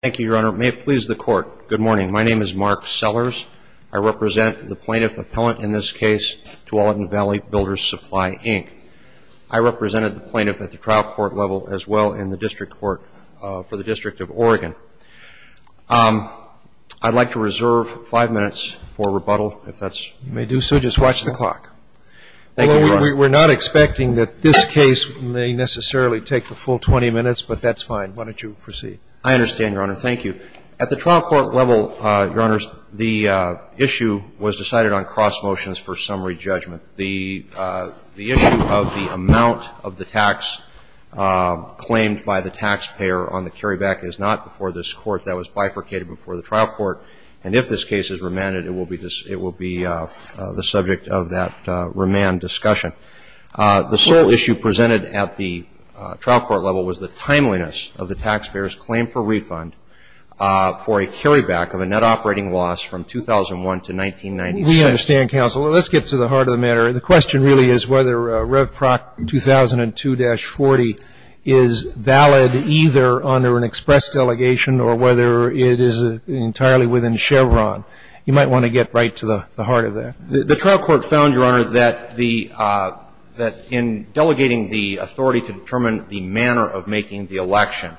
Thank you, Your Honor. May it please the Court, good morning. My name is Mark Sellers. I represent the plaintiff appellant in this case, Tualatin Valley Builders Supply, Inc. I represented the plaintiff at the trial court level as well in the district court for the District of Oregon. I'd like to reserve five minutes for rebuttal, if that's possible. You may do so. Just watch the clock. Thank you, Your Honor. We're not expecting that this case may necessarily take the full 20 minutes, but that's fine. Why don't you proceed? I understand, Your Honor. Thank you. At the trial court level, Your Honors, the issue was decided on cross motions for summary judgment. The issue of the amount of the tax claimed by the taxpayer on the carryback is not before this Court. That was bifurcated before the trial court. And if this case is remanded, it will be the subject of that remand discussion. The sole issue presented at the trial court level was the timeliness of the taxpayer's claim for refund for a carryback of a net operating loss from 2001 to 1996. We understand, Counselor. Let's get to the heart of the matter. The question really is whether Revproc 2002-40 is valid either under an express delegation or whether it is entirely within Chevron. You might want to get right to the heart of that. The trial court found, Your Honor, that the – that in delegating the authority to determine the manner of making the election,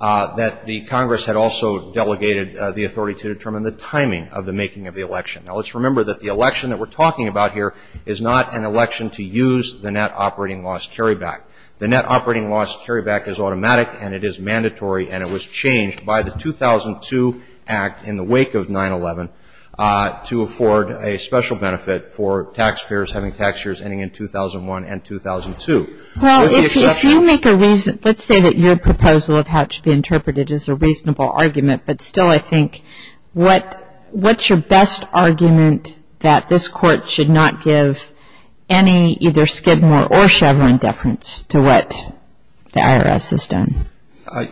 that the Congress had also delegated the authority to determine the timing of the making of the election. Now, let's remember that the election that we're talking about here is not an election to use the net operating loss carryback. The net operating loss carryback is automatic, and it is mandatory, and it was changed by the 2002 Act in the wake of 9-11 to afford a special benefit for taxpayers having tax years ending in 2001 and 2002. Well, if you make a reason – let's say that your proposal of how it should be interpreted is a reasonable argument, but still, I think, what's your best argument that this Court should not give any either Skidmore or Chevron deference to what the IRS has done?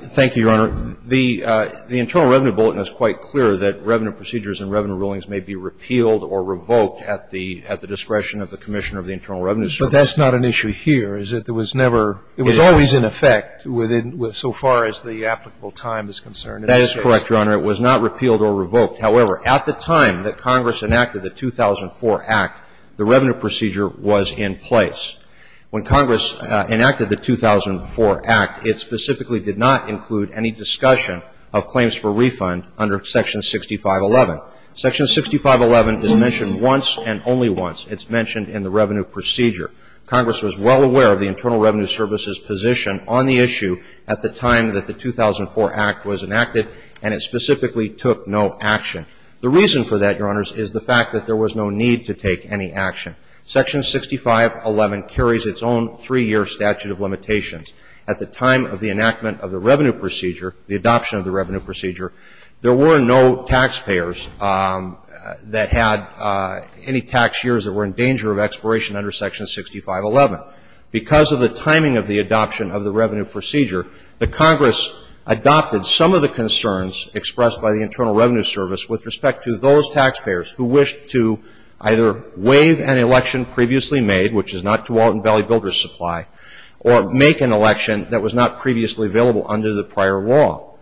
Thank you, Your Honor. The Internal Revenue Bulletin is quite clear that revenue procedures and revenue rulings may be repealed or revoked at the – at the discretion of the Commissioner of the Internal Revenue Service. But that's not an issue here, is it? There was never – it was always in effect within – so far as the applicable time is concerned. That is correct, Your Honor. It was not repealed or revoked. However, at the time that Congress enacted the 2004 Act, the revenue procedure was in place. When Congress enacted the 2004 Act, it specifically did not include any discussion of claims for refund under Section 6511. Section 6511 is mentioned once and only once. It's mentioned in the revenue procedure. Congress was well aware of the Internal Revenue Service's position on the issue at the time that the 2004 Act was enacted, and it specifically took no action. The reason for that, Your Honors, is the fact that there was no need to take any action. Section 6511 carries its own three-year statute of limitations. At the time of the enactment of the revenue procedure, the adoption of the revenue procedure, there were no taxpayers that had any tax years that were in danger of expiration under Section 6511. Because of the timing of the adoption of the revenue procedure, the Congress adopted some of the concerns expressed by the Internal Revenue Service with respect to those taxpayers who wished to either waive an election previously made, which is not Tualatin Valley Builders' Supply, or make an election that was not previously available under the prior law.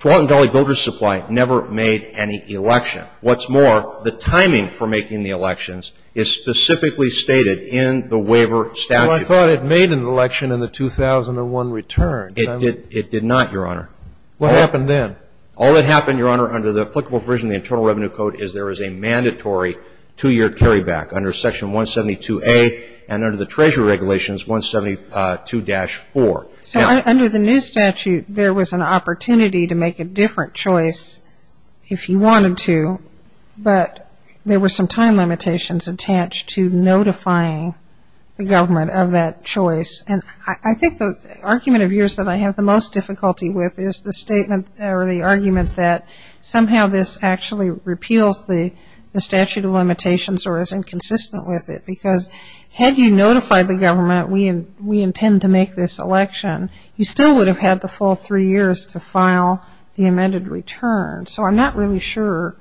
Tualatin Valley Builders' Supply never made any election. What's more, the timing for making the elections is specifically stated in the waiver statute. Well, I thought it made an election in the 2001 return. It did not, Your Honor. What happened then? All that happened, Your Honor, under the applicable provision of the Internal Revenue Code is there is a mandatory two-year carryback under Section 172A and under the Treasury Regulations 172-4. So under the new statute, there was an opportunity to make a different choice if you wanted to, but there were some time limitations attached to notifying the government of that choice. And I think the argument of yours that I have the most difficulty with is the statement or the argument that somehow this actually repeals the statute of limitations or is inconsistent with it. Because had you notified the government, we intend to make this election, you still would have had the full three years to file the amended return. So I'm not really sure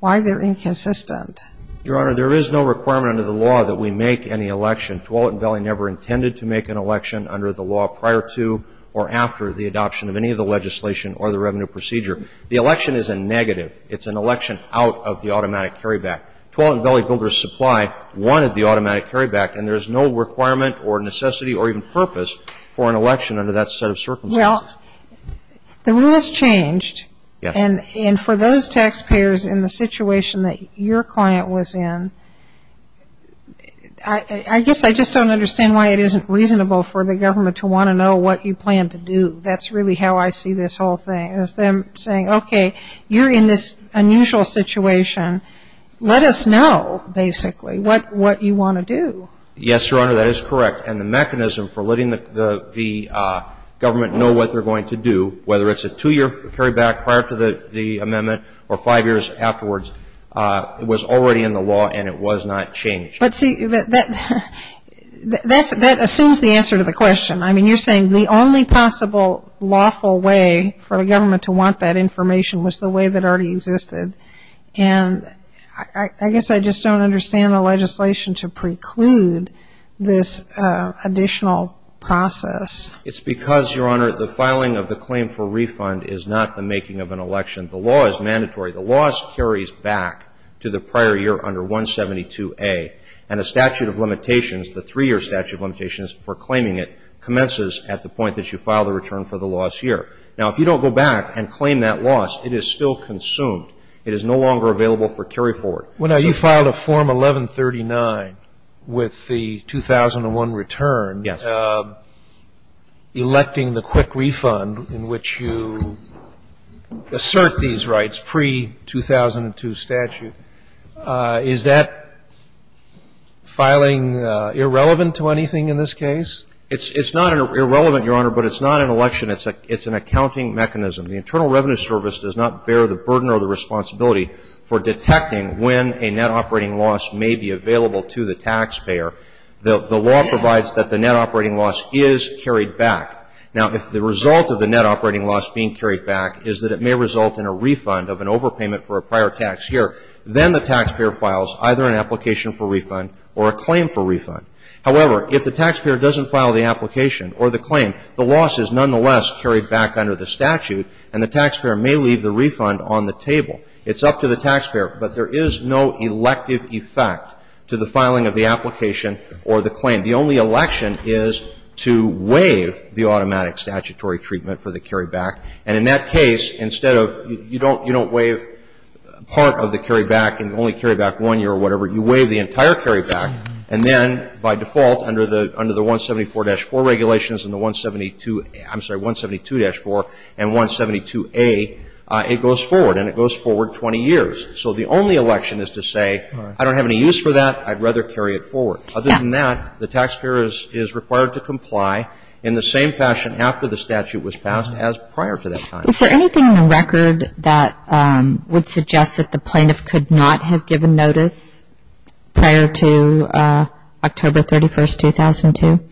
why they're inconsistent. Your Honor, there is no requirement under the law that we make any election. Tualatin Valley never intended to make an election under the law prior to or after the adoption of any of the legislation or the revenue procedure. The election is a negative. It's an election out of the automatic carryback. Tualatin Valley Builders Supply wanted the automatic carryback, and there's no requirement or necessity or even purpose for an election under that set of circumstances. Well, the rule has changed, and for those taxpayers in the situation that your client was in, I guess I just don't understand why it isn't reasonable for the government to want to know what you plan to do. That's really how I see this whole thing, is them saying, okay, you're in this unusual situation. Let us know, basically, what you want to do. Yes, Your Honor, that is correct. And the mechanism for letting the government know what they're going to do, whether it's a two-year carryback prior to the amendment or five years afterwards, it was already in the law and it was not changed. But see, that assumes the answer to the question. I mean, you're saying the only possible lawful way for the government to want that information was the way that already existed. And I guess I just don't understand the legislation to preclude this additional process. It's because, Your Honor, the filing of the claim for refund is not the making of an election. The law is mandatory. The law carries back to the prior year under 172A. And a statute of limitations, the three-year statute of limitations for claiming it, commences at the point that you file the return for the lost year. Now, if you don't go back and claim that loss, it is still consumed. It is no longer available for carryforward. Well, now, you filed a Form 1139 with the 2001 return. Yes. Electing the quick refund in which you assert these rights pre-2002 statute. Is that filing irrelevant to anything in this case? It's not irrelevant, Your Honor, but it's not an election. It's an accounting mechanism. The Internal Revenue Service does not bear the burden or the responsibility for detecting when a net operating loss may be available to the taxpayer. The law provides that the net operating loss is carried back. Now, if the result of the net operating loss being carried back is that it may result in a refund of an overpayment for a prior tax year, then the taxpayer files either an application for refund or a claim for refund. However, if the taxpayer doesn't file the application or the claim, the loss is nonetheless carried back under the statute, and the taxpayer may leave the refund on the table. It's up to the taxpayer, but there is no elective effect to the filing of the application or the claim. The only election is to waive the automatic statutory treatment for the carryback. And in that case, instead of you don't waive part of the carryback and only carry back one year or whatever, you waive the entire carryback, and then by default under the 174-4 regulations and the 172 – I'm sorry, 172-4 and 172a, it goes forward, and it goes forward 20 years. So the only election is to say, I don't have any use for that, I'd rather carry it forward. Other than that, the taxpayer is required to comply in the same fashion after the statute was passed as prior to the statute. And the taxpayer is not required to comply with any of the regulations that were in place prior to that time. Is there anything in the record that would suggest that the plaintiff could not have given notice prior to October 31st, 2002?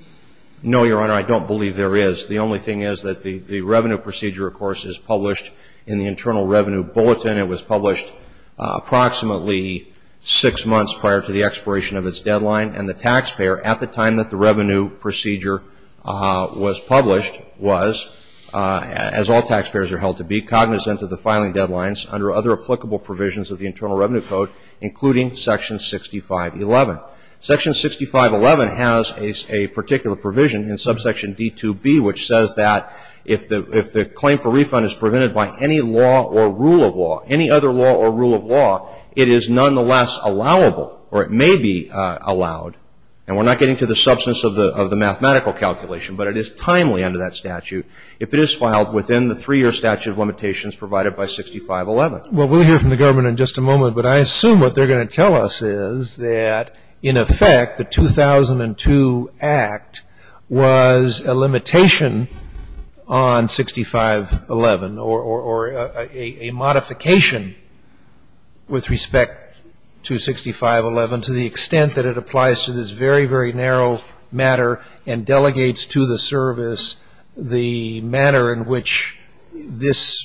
No, Your Honor, I don't believe there is. The only thing is that the revenue procedure, of course, is published in the Internal Revenue Bulletin. It was published approximately six months prior to the expiration of its deadline, and the taxpayer, at the time that the revenue procedure was published, was, as all taxpayers are held to be, cognizant of the filing deadlines under other applicable provisions of the Internal Revenue Code, including Section 6511. Section 6511 has a particular provision in subsection D2b, which says that if the claim for refund is prevented by any law or rule of law, it is nonetheless allowable, or it may be allowed, and we're not getting to the substance of the mathematical calculation, but it is timely under that statute, if it is filed within the three-year statute of limitations provided by 6511. Well, we'll hear from the government in just a moment, but I assume what they're going to tell us is that, in effect, the 2002 Act was a limitation on 6511, or a modification with respect to 6511 to the extent that it applies to this very, very narrow matter and delegates to the service the manner in which this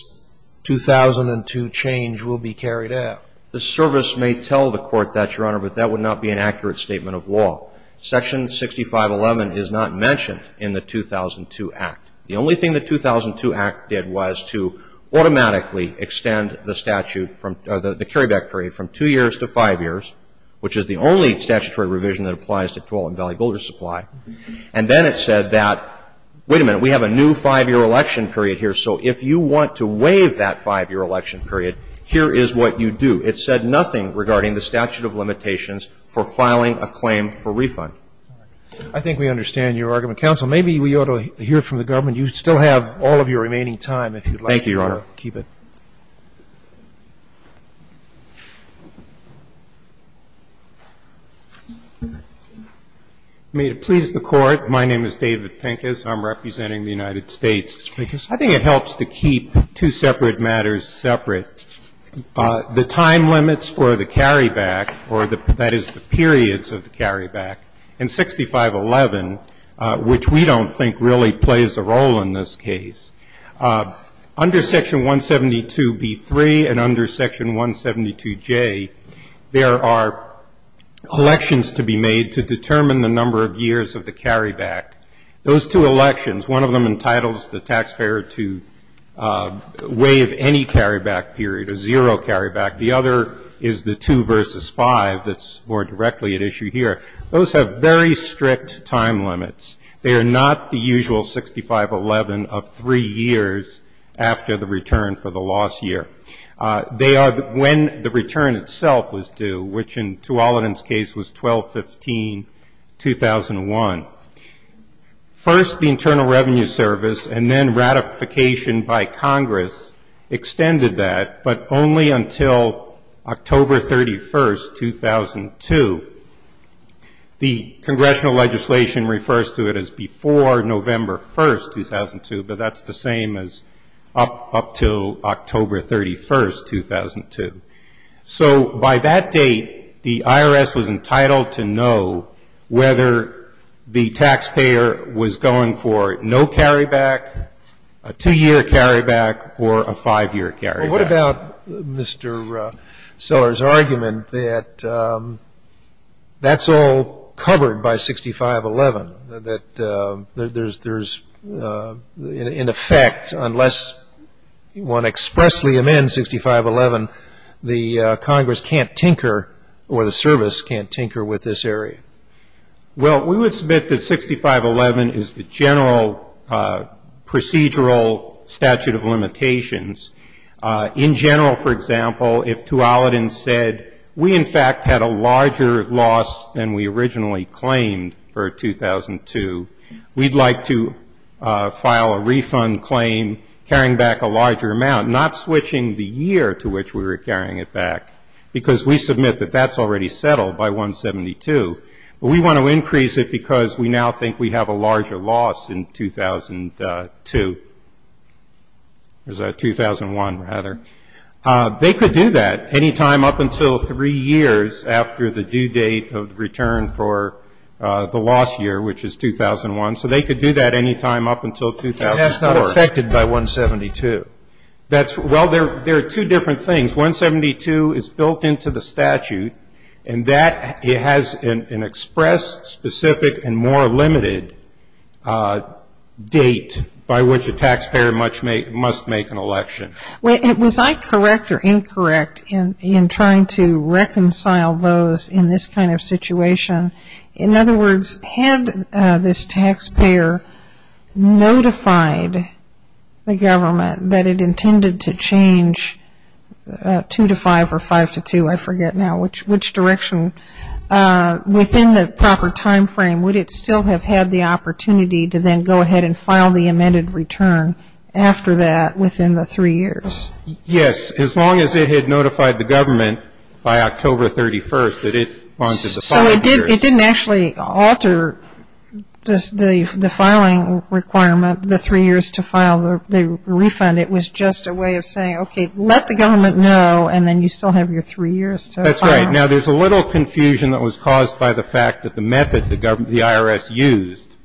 2002 change will be carried out. The service may tell the court that, Your Honor, but that would not be an accurate statement of law. Section 6511 is not mentioned in the 2002 Act. The only thing the 2002 Act did was to automatically extend the statute from the carryback period from two years to five years, which is the only statutory revision that applies to Tualatin Valley Builder Supply, and then it said that, wait a minute, we have a new five-year election period here, so if you want to waive that five-year election period, here is what you do. It said nothing regarding the statute of limitations for filing a claim for refund. I think we understand your argument. Counsel, maybe we ought to hear from the government. You still have all of your remaining time, if you'd like to keep it. Thank you, Your Honor. May it please the Court, my name is David Pincus. I'm representing the United States. Mr. Pincus. I think it helps to keep two separate matters separate. The time limits for the carryback, or that is the periods of the carryback, and 6511, which we don't think really plays a role in this case. Under Section 172b3 and under Section 172j, there are elections to be made to determine the number of years of the carryback. Those two elections, one of them entitles the taxpayer to waive any carryback period, a zero carryback. The other is the two versus five that's more directly at issue here. Those have very strict time limits. They are not the usual 6511 of three years after the return for the loss year. They are when the return itself was due, which in Tuolumne's case was 12-15-2001. First, the Internal Revenue Service and then ratification by Congress extended that, but only until October 31st, 2002. The Congressional legislation refers to it as before November 1st, 2002, but that's the same as up until October 31st, 2002. By that date, the IRS was entitled to know whether the taxpayer was going for no carryback, a two-year carryback, or a five-year carryback. Well, what about Mr. Seller's argument that that's all covered by 6511, that there's, there's, in effect, unless one expressly amends 6511, the Congress can't tinker or the service can't tinker with this area? Well, we would submit that 6511 is the general procedural statute of limitations. In general, for example, if Tuolumne said, we, in fact, had a larger loss than we originally claimed for 2002, we'd like to file a refund claim carrying back a larger amount, not switching the year to which we were carrying it back, because we submit that that's already settled by 172, but we want to increase it because we now think we have a larger loss in 2002. Or is that 2001, rather? They could do that any time up until three years after the due date of return for the loss year, which is 2001. So they could do that any time up until 2004. But that's not affected by 172. That's, well, there are two different things. 172 is built into the statute, and that has an expressed, specific, and more limited date by which a taxpayer must make an election. Was I correct or incorrect in trying to reconcile those in this kind of situation? In other words, had this taxpayer notified the government that it intended to change 2 to 5 or 5 to 2, I forget now, which direction, within the proper time frame, would it still have had the opportunity to then go ahead and file the amended return after that within the three years? Yes. As long as it had notified the government by October 31st that it wanted to file the year. So it didn't actually alter the filing requirement, the three years to file the refund. It was just a way of saying, okay, let the government know, and then you still have your three years to file. That's right. Now, there's a little confusion that was caused by the fact that the method the IRS used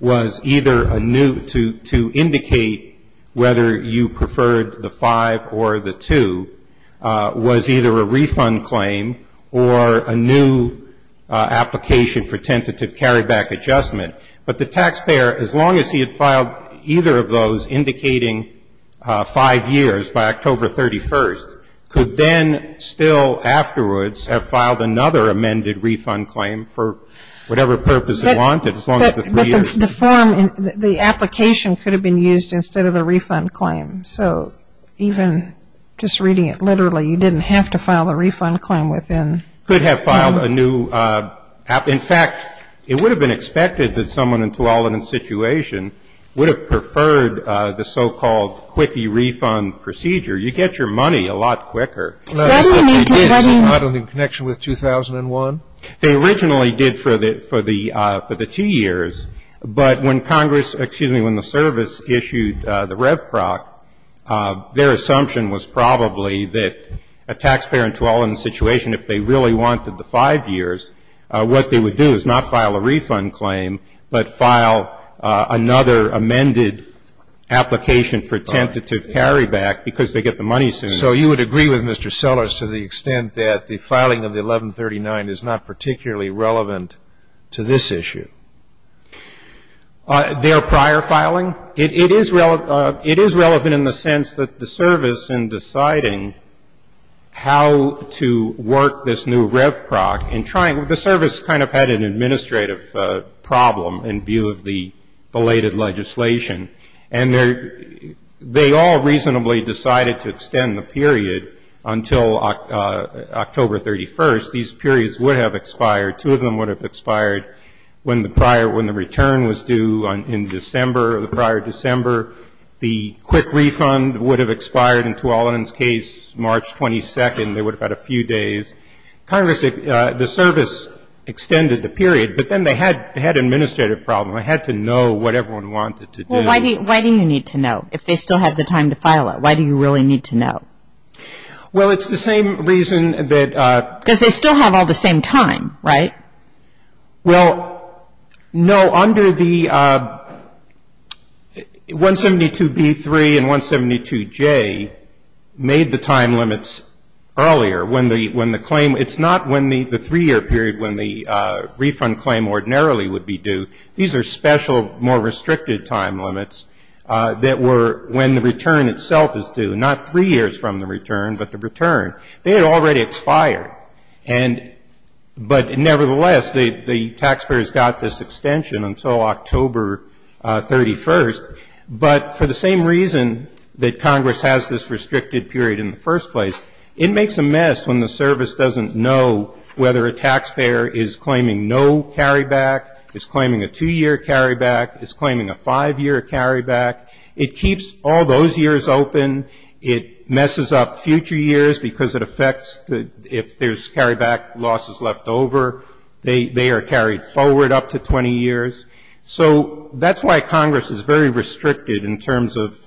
was either a new, to indicate whether you preferred the 5 or the 2, was either a refund claim or a new application for tentative carryback adjustment. But the taxpayer, as long as he had filed either of those indicating five years by October 31st, could then still afterwards have filed another amended refund claim for whatever purpose he wanted, as long as the three years. But the form, the application could have been used instead of the refund claim. So even just reading it literally, you didn't have to file the refund claim within. Could have filed a new. In fact, it would have been expected that someone in Tuolumne's situation would have preferred the so-called quickie refund procedure. You get your money a lot quicker. That's what you did. Is it not in connection with 2001? They originally did for the two years. But when Congress, excuse me, when the service issued the Rev Proc, their assumption was probably that a taxpayer in Tuolumne's situation, if they really wanted the five years, what they would do is not file a refund claim, but file another amended application for tentative carryback because they get the money sooner. So you would agree with Mr. Sellers to the extent that the filing of the 1139 is not particularly relevant to this issue? Their prior filing? It is relevant in the sense that the service in deciding how to work this new Rev Proc and trying, the service kind of had an administrative problem in view of the belated legislation. And they all reasonably decided to extend the period until October 31st. These periods would have expired. Two of them would have expired when the prior, when the return was due in December, the prior December. The quick refund would have expired in Tuolumne's case March 22nd. They would have had a few days. Congress, the service extended the period, but then they had an administrative problem. They had to know what everyone wanted to do. Well, why do you need to know if they still have the time to file it? Why do you really need to know? Well, it's the same reason that... Because they still have all the same time, right? Well, no, under the 172b3 and 172j made the time limits earlier when the claim was issued. It's not when the three-year period when the refund claim ordinarily would be due. These are special, more restricted time limits that were when the return itself is due. Not three years from the return, but the return. They had already expired. But nevertheless, the taxpayers got this extension until October 31st. But for the same reason that Congress has this restricted period in the first place, it makes a mess when the service doesn't know whether a taxpayer is claiming no carryback, is claiming a two-year carryback, is claiming a five-year carryback. It keeps all those years open. It messes up future years because it affects if there's carryback losses left over. They are carried forward up to 20 years. So that's why Congress is very restricted in terms of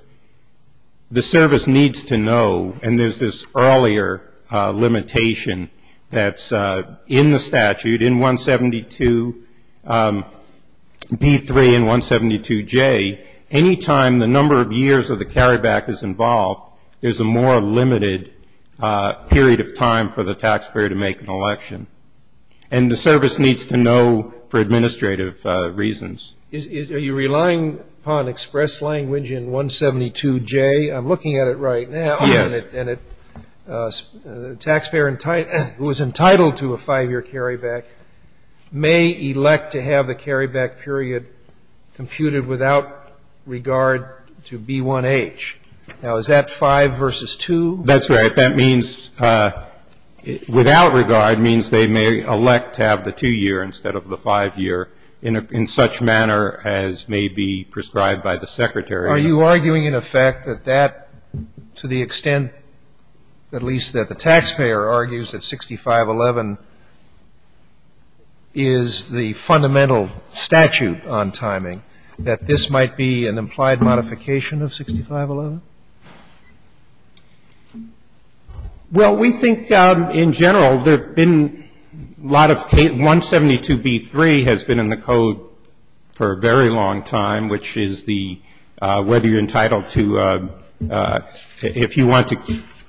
the service needs to know. And there's this earlier limitation that's in the statute, in 172b3 and 172j. Any time the number of years of the carryback is involved, there's a more limited period of time for the taxpayer to make an election. And the service needs to know for administrative reasons. Are you relying upon express language in 172j? I'm looking at it right now. And the taxpayer who is entitled to a five-year carryback may elect to have the carryback period computed without regard to B1H. Now, is that five versus two? That's right. That means without regard means they may elect to have the two-year instead of the five-year in such manner as may be prescribed by the Secretary. Are you arguing in effect that that, to the extent at least that the taxpayer argues that 6511 is the fundamental statute on timing, that this might be an implied modification of 6511? Well, we think in general there have been a lot of 172b3 has been in the code for a very long time, which is the whether you're entitled to if you want to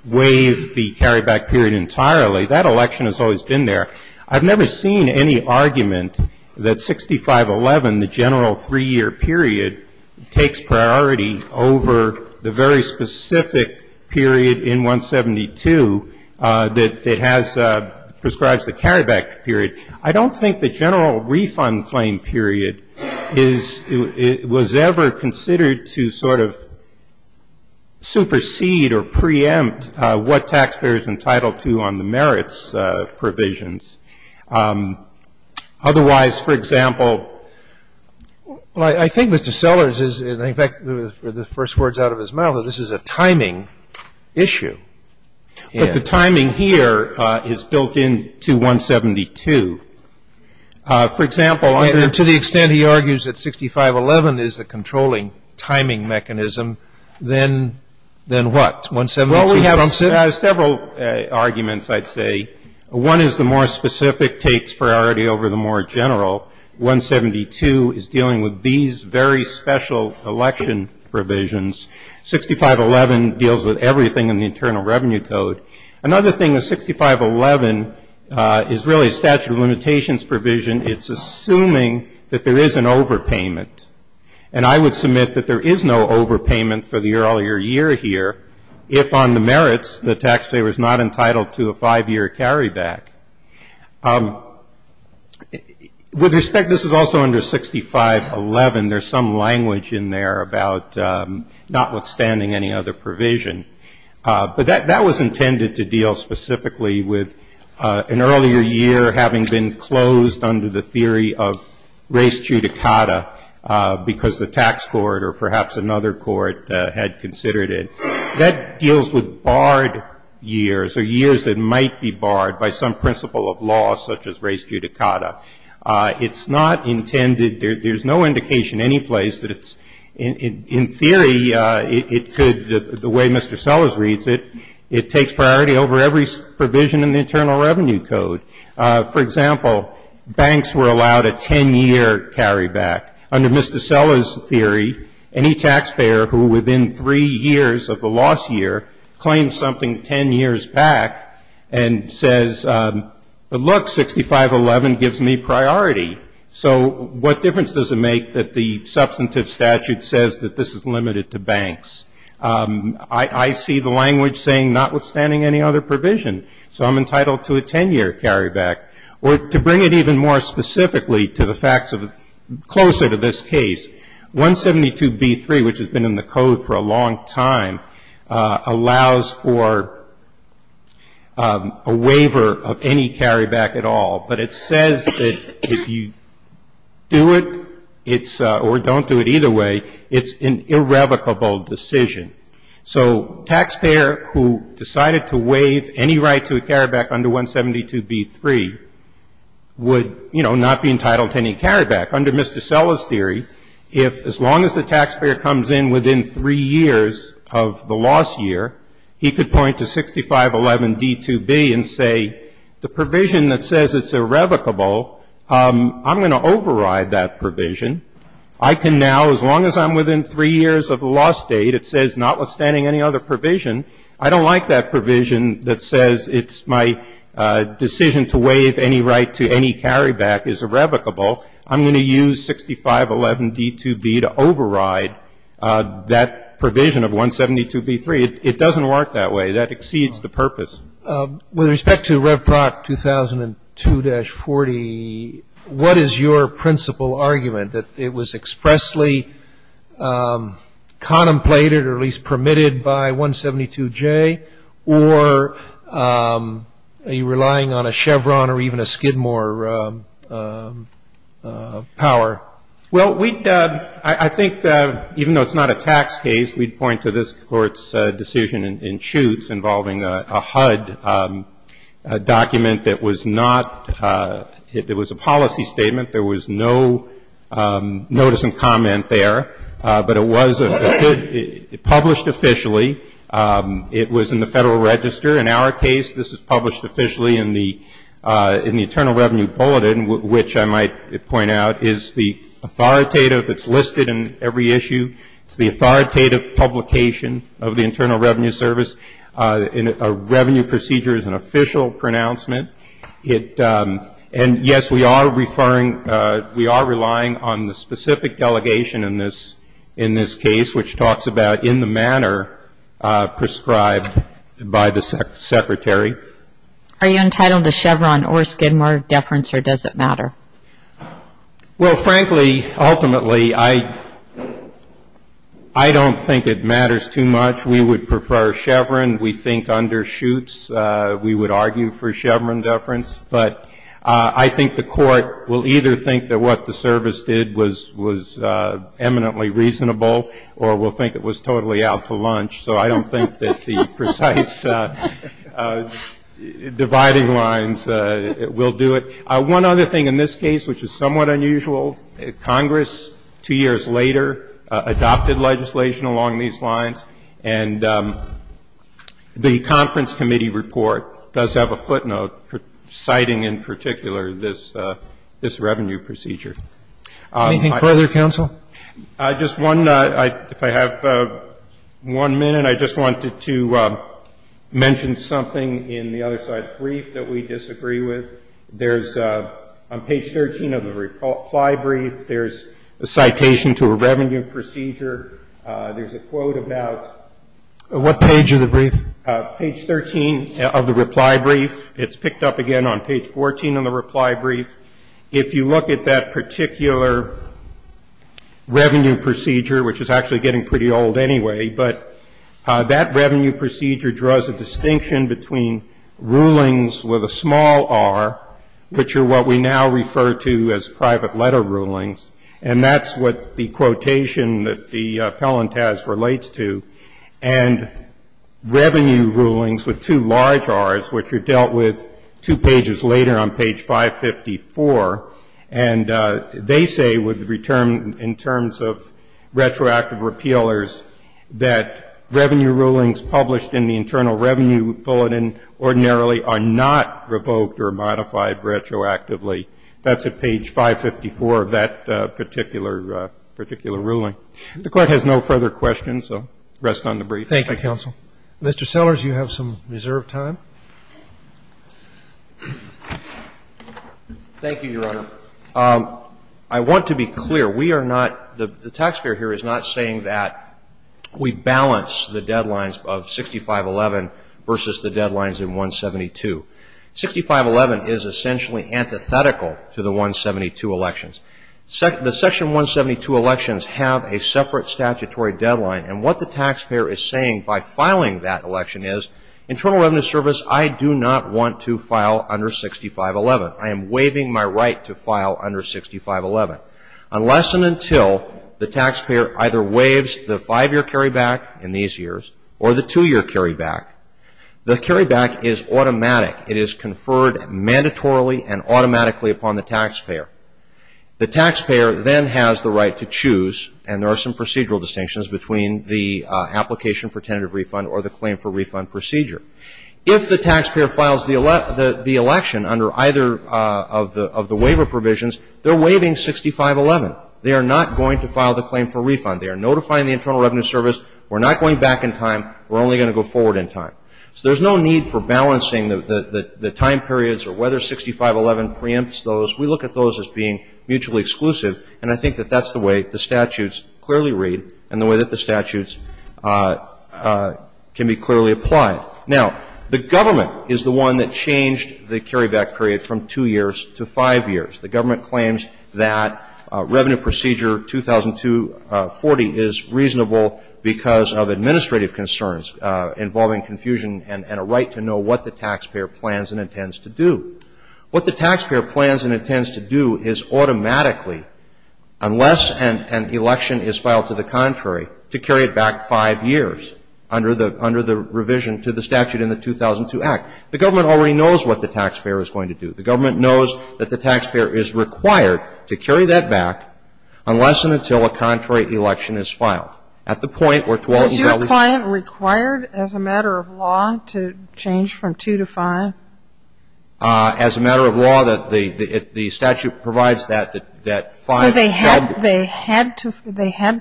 waive the carryback period entirely. That election has always been there. I've never seen any argument that 6511, the general three-year period, takes priority over the very specific period in 172 that prescribes the carryback period. I don't think the general refund claim period was ever considered to sort of supersede or preempt what taxpayers are entitled to on the merits provisions. Otherwise, for example, I think Mr. Sellers is, in fact, with the first words out of his mouth, that this is a timing issue. But the timing here is built into 172. For example, to the extent he argues that 6511 is the controlling timing mechanism, then what? Well, we have several arguments, I'd say. One is the more specific takes priority over the more general. 172 is dealing with these very special election provisions. 6511 deals with everything in the Internal Revenue Code. Another thing is 6511 is really a statute of limitations provision. It's assuming that there is an overpayment. And I would submit that there is no overpayment for the earlier year here if on the merits the taxpayer is not entitled to a five-year carryback. With respect, this is also under 6511. There's some language in there about notwithstanding any other provision. But that was intended to deal specifically with an earlier year having been closed under the theory of res judicata because the tax court or perhaps another court had considered it. That deals with barred years or years that might be barred by some principle of law, such as res judicata. It's not intended, there's no indication any place that it's, in theory, it could, the way Mr. Sellers reads it, it takes priority over every provision in the Internal Revenue Code. For example, banks were allowed a 10-year carryback. Under Mr. Sellers' theory, any taxpayer who within three years of the loss year claims something 10 years back and says, but look, 6511 gives me priority. So what difference does it make that the substantive statute says that this is limited to banks? I see the language saying notwithstanding any other provision. So I'm entitled to a 10-year carryback. Or to bring it even more specifically to the facts of, closer to this case, 172b3, which has been in the code for a long time, allows for a waiver of any carryback at all. But it says that if you do it, it's, or don't do it either way, it's an irrevocable decision. So taxpayer who decided to waive any right to a carryback under 172b3 would, you know, not be entitled to any carryback. Under Mr. Sellers' theory, if, as long as the taxpayer comes in within three years of the loss year, he could point to 6511d2b and say, the provision that says it's irrevocable, I'm going to override that provision. I can now, as long as I'm within three years of the loss date, it says notwithstanding any other provision, I don't like that provision that says it's my decision to waive any right to any carryback is irrevocable. I'm going to use 6511d2b to override that provision of 172b3. It doesn't work that way. That exceeds the purpose. With respect to Rev. Proc. 2002-40, what is your principal argument, that it was expressly contemplated, or at least permitted by 172j, or are you relying on a Chevron or even a Skidmore power? Well, we'd, I think, even though it's not a tax case, we'd point to this Court's decision in Chutes involving a HUD document that was not, it was a policy statement. There was no notice and comment there, but it was published officially. It was in the Federal Register. In our case, this is published officially in the Internal Revenue Bulletin, which I might point out is the authoritative, it's listed in every issue. It's the authoritative publication of the Internal Revenue Service. A revenue procedure is an official pronouncement. It, and yes, we are referring, we are relying on the specific delegation in this case, which talks about in the manner prescribed by the Secretary. Are you entitled to Chevron or Skidmore deference, or does it matter? Well, frankly, ultimately, I don't think it matters too much. We would prefer Chevron. We think under Chutes, we would argue for Chevron deference, but I think the Court will either think that what the service did was eminently reasonable or will think it was totally out for lunch. So I don't think that the precise dividing lines will do it. One other thing in this case, which is somewhat unusual, Congress two years later adopted legislation along these lines, and the Conference Committee report does have a footnote citing in particular this revenue procedure. Anything further, counsel? Just one, if I have one minute, I just wanted to mention something in the other side of the brief that we disagree with. There's, on page 13 of the reply brief, there's a citation to a revenue procedure. There's a quote about. What page of the brief? Page 13 of the reply brief. It's picked up again on page 14 of the reply brief. If you look at that particular revenue procedure, which is actually getting pretty old anyway, but that revenue procedure draws a distinction between rulings with a small r, which are what we now refer to as private letter rulings, and that's what the quotation that the appellant has relates to, and revenue rulings with two large r's, which are dealt with two pages later on page 554, and they say in terms of retroactive repealers that revenue rulings published in the Internal Revenue Bulletin ordinarily are not revoked or modified retroactively. That's at page 554 of that particular ruling. The Court has no further questions, so rest on the brief. Thank you, Counsel. Mr. Sellers, you have some reserved time. Thank you, Your Honor. I want to be clear. We are not, the tax payer here is not saying that we balance the deadlines of 6511 versus the deadlines in 172. 6511 is essentially antithetical to the 172 elections. The section 172 elections have a separate statutory deadline, and what the tax payer is saying by filing that election is Internal Revenue Service, I do not want to file under 6511. I am waiving my right to file under 6511. Unless and until the tax payer either waives the five-year carryback in these years, or the two-year carryback, the carryback is automatic. It is conferred mandatorily and automatically upon the tax payer. The tax payer then has the right to choose, and there are some procedural distinctions between the application for tentative refund or the claim for refund procedure. If the tax payer files the election under either of the waiver provisions, they're waiving 6511. They are not going to file the claim for refund. They are notifying the Internal Revenue Service, we're not going back in time, we're only going to go forward in time. So there's no need for balancing the time periods or whether 6511 preempts those. We look at those as being mutually exclusive, and I think that that's the way the statutes clearly read and the way that the statutes can be clearly applied. Now, the government is the one that changed the carryback period from two years to five years. The government claims that revenue procedure 2002-40 is reasonable because of administrative concerns involving confusion and a right to know what the tax payer plans and intends to do. What the tax payer plans and intends to do is automatically, unless an election is filed to the contrary, to carry it back five years under the revision to the statute in the 2002 Act. The government already knows what the tax payer is going to do. The government knows that the tax payer is required to carry that back unless and until a contrary Was your client required as a matter of law to change from two to five? As a matter of law, the statute provides that five. So they had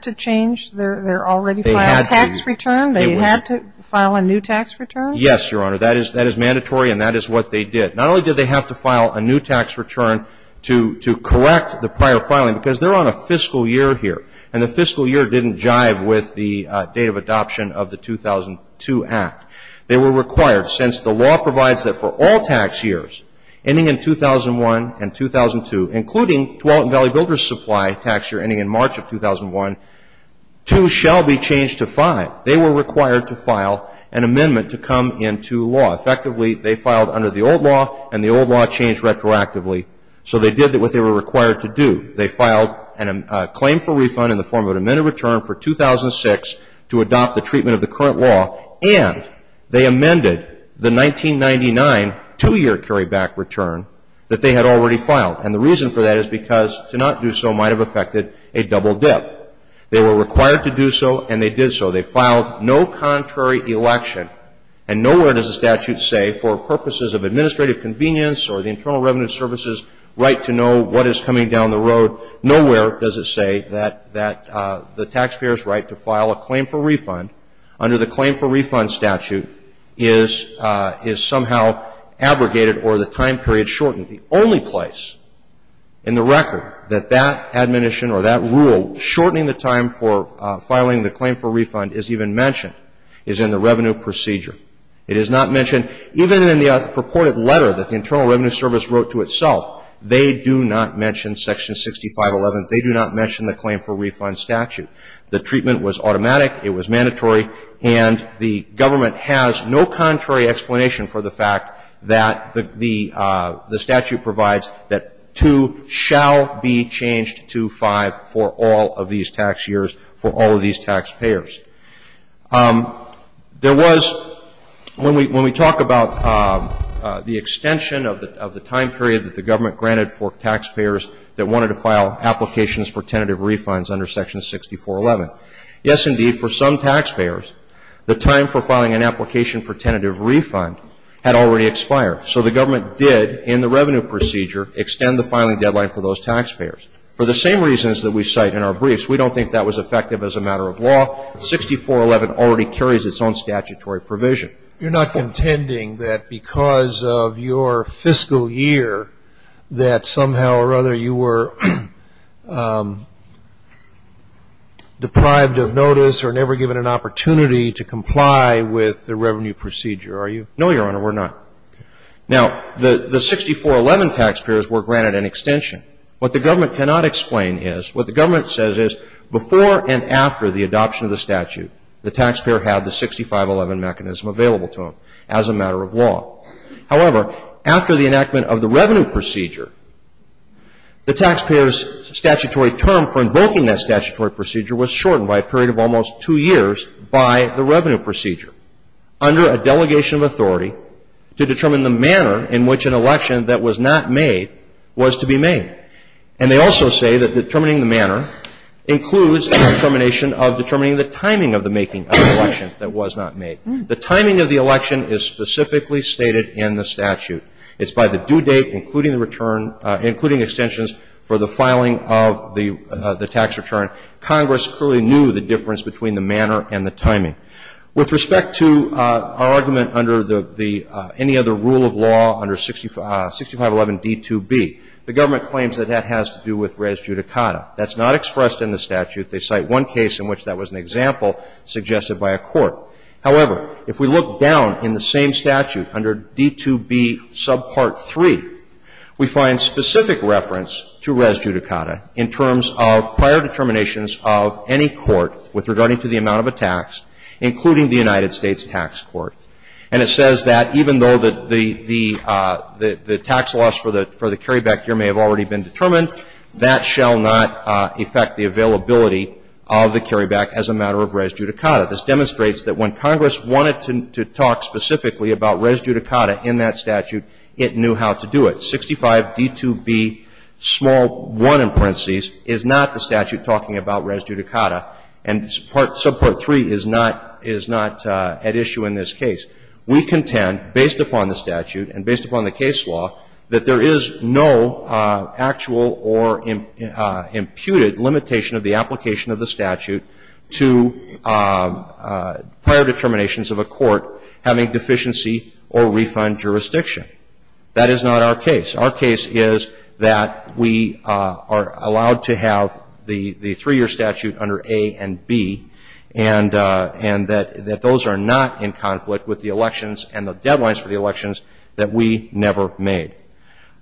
to change their already filed tax return? They had to file a new tax return? Yes, Your Honor. That is mandatory and that is what they did. Not only did they have to file a new tax return to correct the prior filing, because they're on a fiscal year here and the fiscal year didn't jive with the date of adoption of the 2002 Act. They were required, since the law provides that for all tax years ending in 2001 and 2002, including Tualatin Valley Builders Supply tax year ending in March of 2001, two shall be changed to five. They were required to file an amendment to come into law. Effectively, they filed under the old law and the old law changed retroactively. So they did what they were required to do. They filed a claim for refund in the form of an amended return for 2006 to adopt the treatment of the current law. And they amended the 1999 two-year carryback return that they had already filed. And the reason for that is because to not do so might have affected a double dip. They were required to do so and they did so. They filed no contrary election. And nowhere does the statute say for purposes of administrative convenience or the Internal Revenue Service's right to know what is coming down the road. Nowhere does it say that the taxpayer's right to file a claim for refund under the claim for refund statute is somehow abrogated or the time period shortened. The only place in the record that that admonition or that rule shortening the time for filing the claim for refund is even mentioned is in the revenue procedure. It is not mentioned even in the purported letter that the Internal Revenue Service wrote to itself. They do not mention Section 6511. They do not mention the claim for refund statute. The treatment was automatic. It was mandatory. And the government has no contrary explanation for the fact that the statute provides that 2 shall be changed to 5 for all of these tax years for all of these taxpayers. There was, when we talk about the extension of the time period that the government granted for taxpayers that wanted to file applications for tentative refunds under Section 6411, yes, indeed, for some taxpayers, the time for filing an application for tentative refund had already expired. So the government did, in the revenue procedure, extend the filing deadline for those taxpayers for the same reasons that we cite in our briefs. We don't think that was effective as a matter of law. 6411 already carries its own statutory provision. You're not contending that because of your fiscal year that somehow or other you were deprived of notice or never given an opportunity to comply with the revenue procedure, are you? No, Your Honor, we're not. Now, the 6411 taxpayers were granted an extension. What the government cannot explain is, what the government says is, before and after the adoption of the statute, the taxpayer had the 6511 mechanism available to them as a matter of law. However, after the enactment of the revenue procedure, the taxpayer's statutory term for invoking that statutory procedure was shortened by a period of almost 2 years by the revenue procedure under a delegation of authority to determine the manner in which an election that was not made was to be made. And they also say that determining the manner includes a determination of determining the timing of the making of an election that was not made. The timing of the election is specifically stated in the statute. It's by the due date, including the return, including extensions for the filing of the tax return. Congress clearly knew the difference between the manner and the timing. With respect to our argument under the any other rule of law under 6511 D2B, the government claims that that has to do with res judicata. That's not expressed in the statute. They cite one case in which that was an example suggested by a court. However, if we look down in the same statute under D2B subpart 3, we find specific reference to res judicata in terms of prior determinations of any court with including the United States Tax Court. And it says that even though the tax loss for the carryback here may have already been determined, that shall not affect the availability of the carryback as a matter of res judicata. This demonstrates that when Congress wanted to talk specifically about res judicata in that statute, it knew how to do it. So 65 D2B small 1 in parentheses is not the statute talking about res judicata. And subpart 3 is not at issue in this case. We contend, based upon the statute and based upon the case law, that there is no actual or imputed limitation of the application of the statute to prior determinations of a court having deficiency or refund jurisdiction. That is not our case. Our case is that we are allowed to have the three-year statute under A and B, and that those are not in conflict with the elections and the deadlines for the elections that we never made.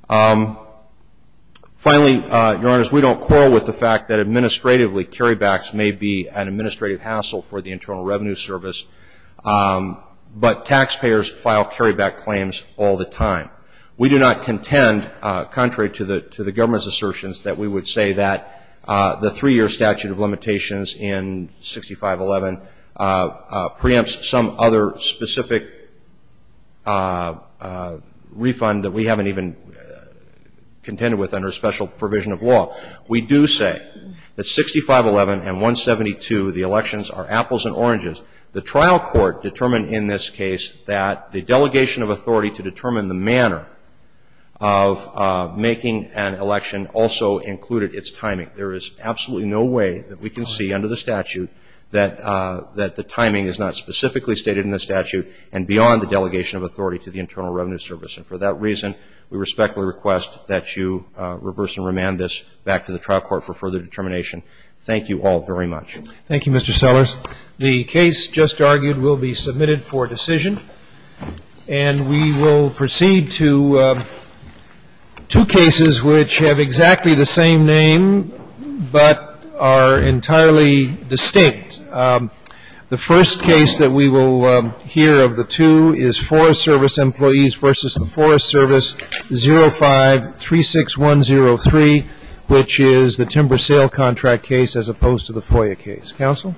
Finally, Your Honors, we don't quarrel with the fact that administratively carrybacks may be an administrative hassle for the Internal Revenue Service, but taxpayers file carryback claims all the time. We do not contend, contrary to the government's assertions, that we would say that the three-year statute of limitations in 6511 preempts some other specific refund that we haven't even contended with under special provision of law. We do say that 6511 and 172, the elections are apples and oranges. The trial court determined in this case that the delegation of authority to determine the manner of making an election also included its timing. There is absolutely no way that we can see under the statute that the timing is not specifically stated in the statute and beyond the delegation of authority to the Internal Revenue Service. And for that reason, we respectfully request that you reverse and remand this back to the trial court for further determination. Thank you all very much. Thank you, Mr. Sellers. The case just argued will be submitted for decision. And we will proceed to two cases which have exactly the same name but are entirely distinct. The first case that we will hear of the two is Forest Service employees versus the Forest Service, 05-36103, which is the timber sale contract case as opposed to the FOIA case. Counsel?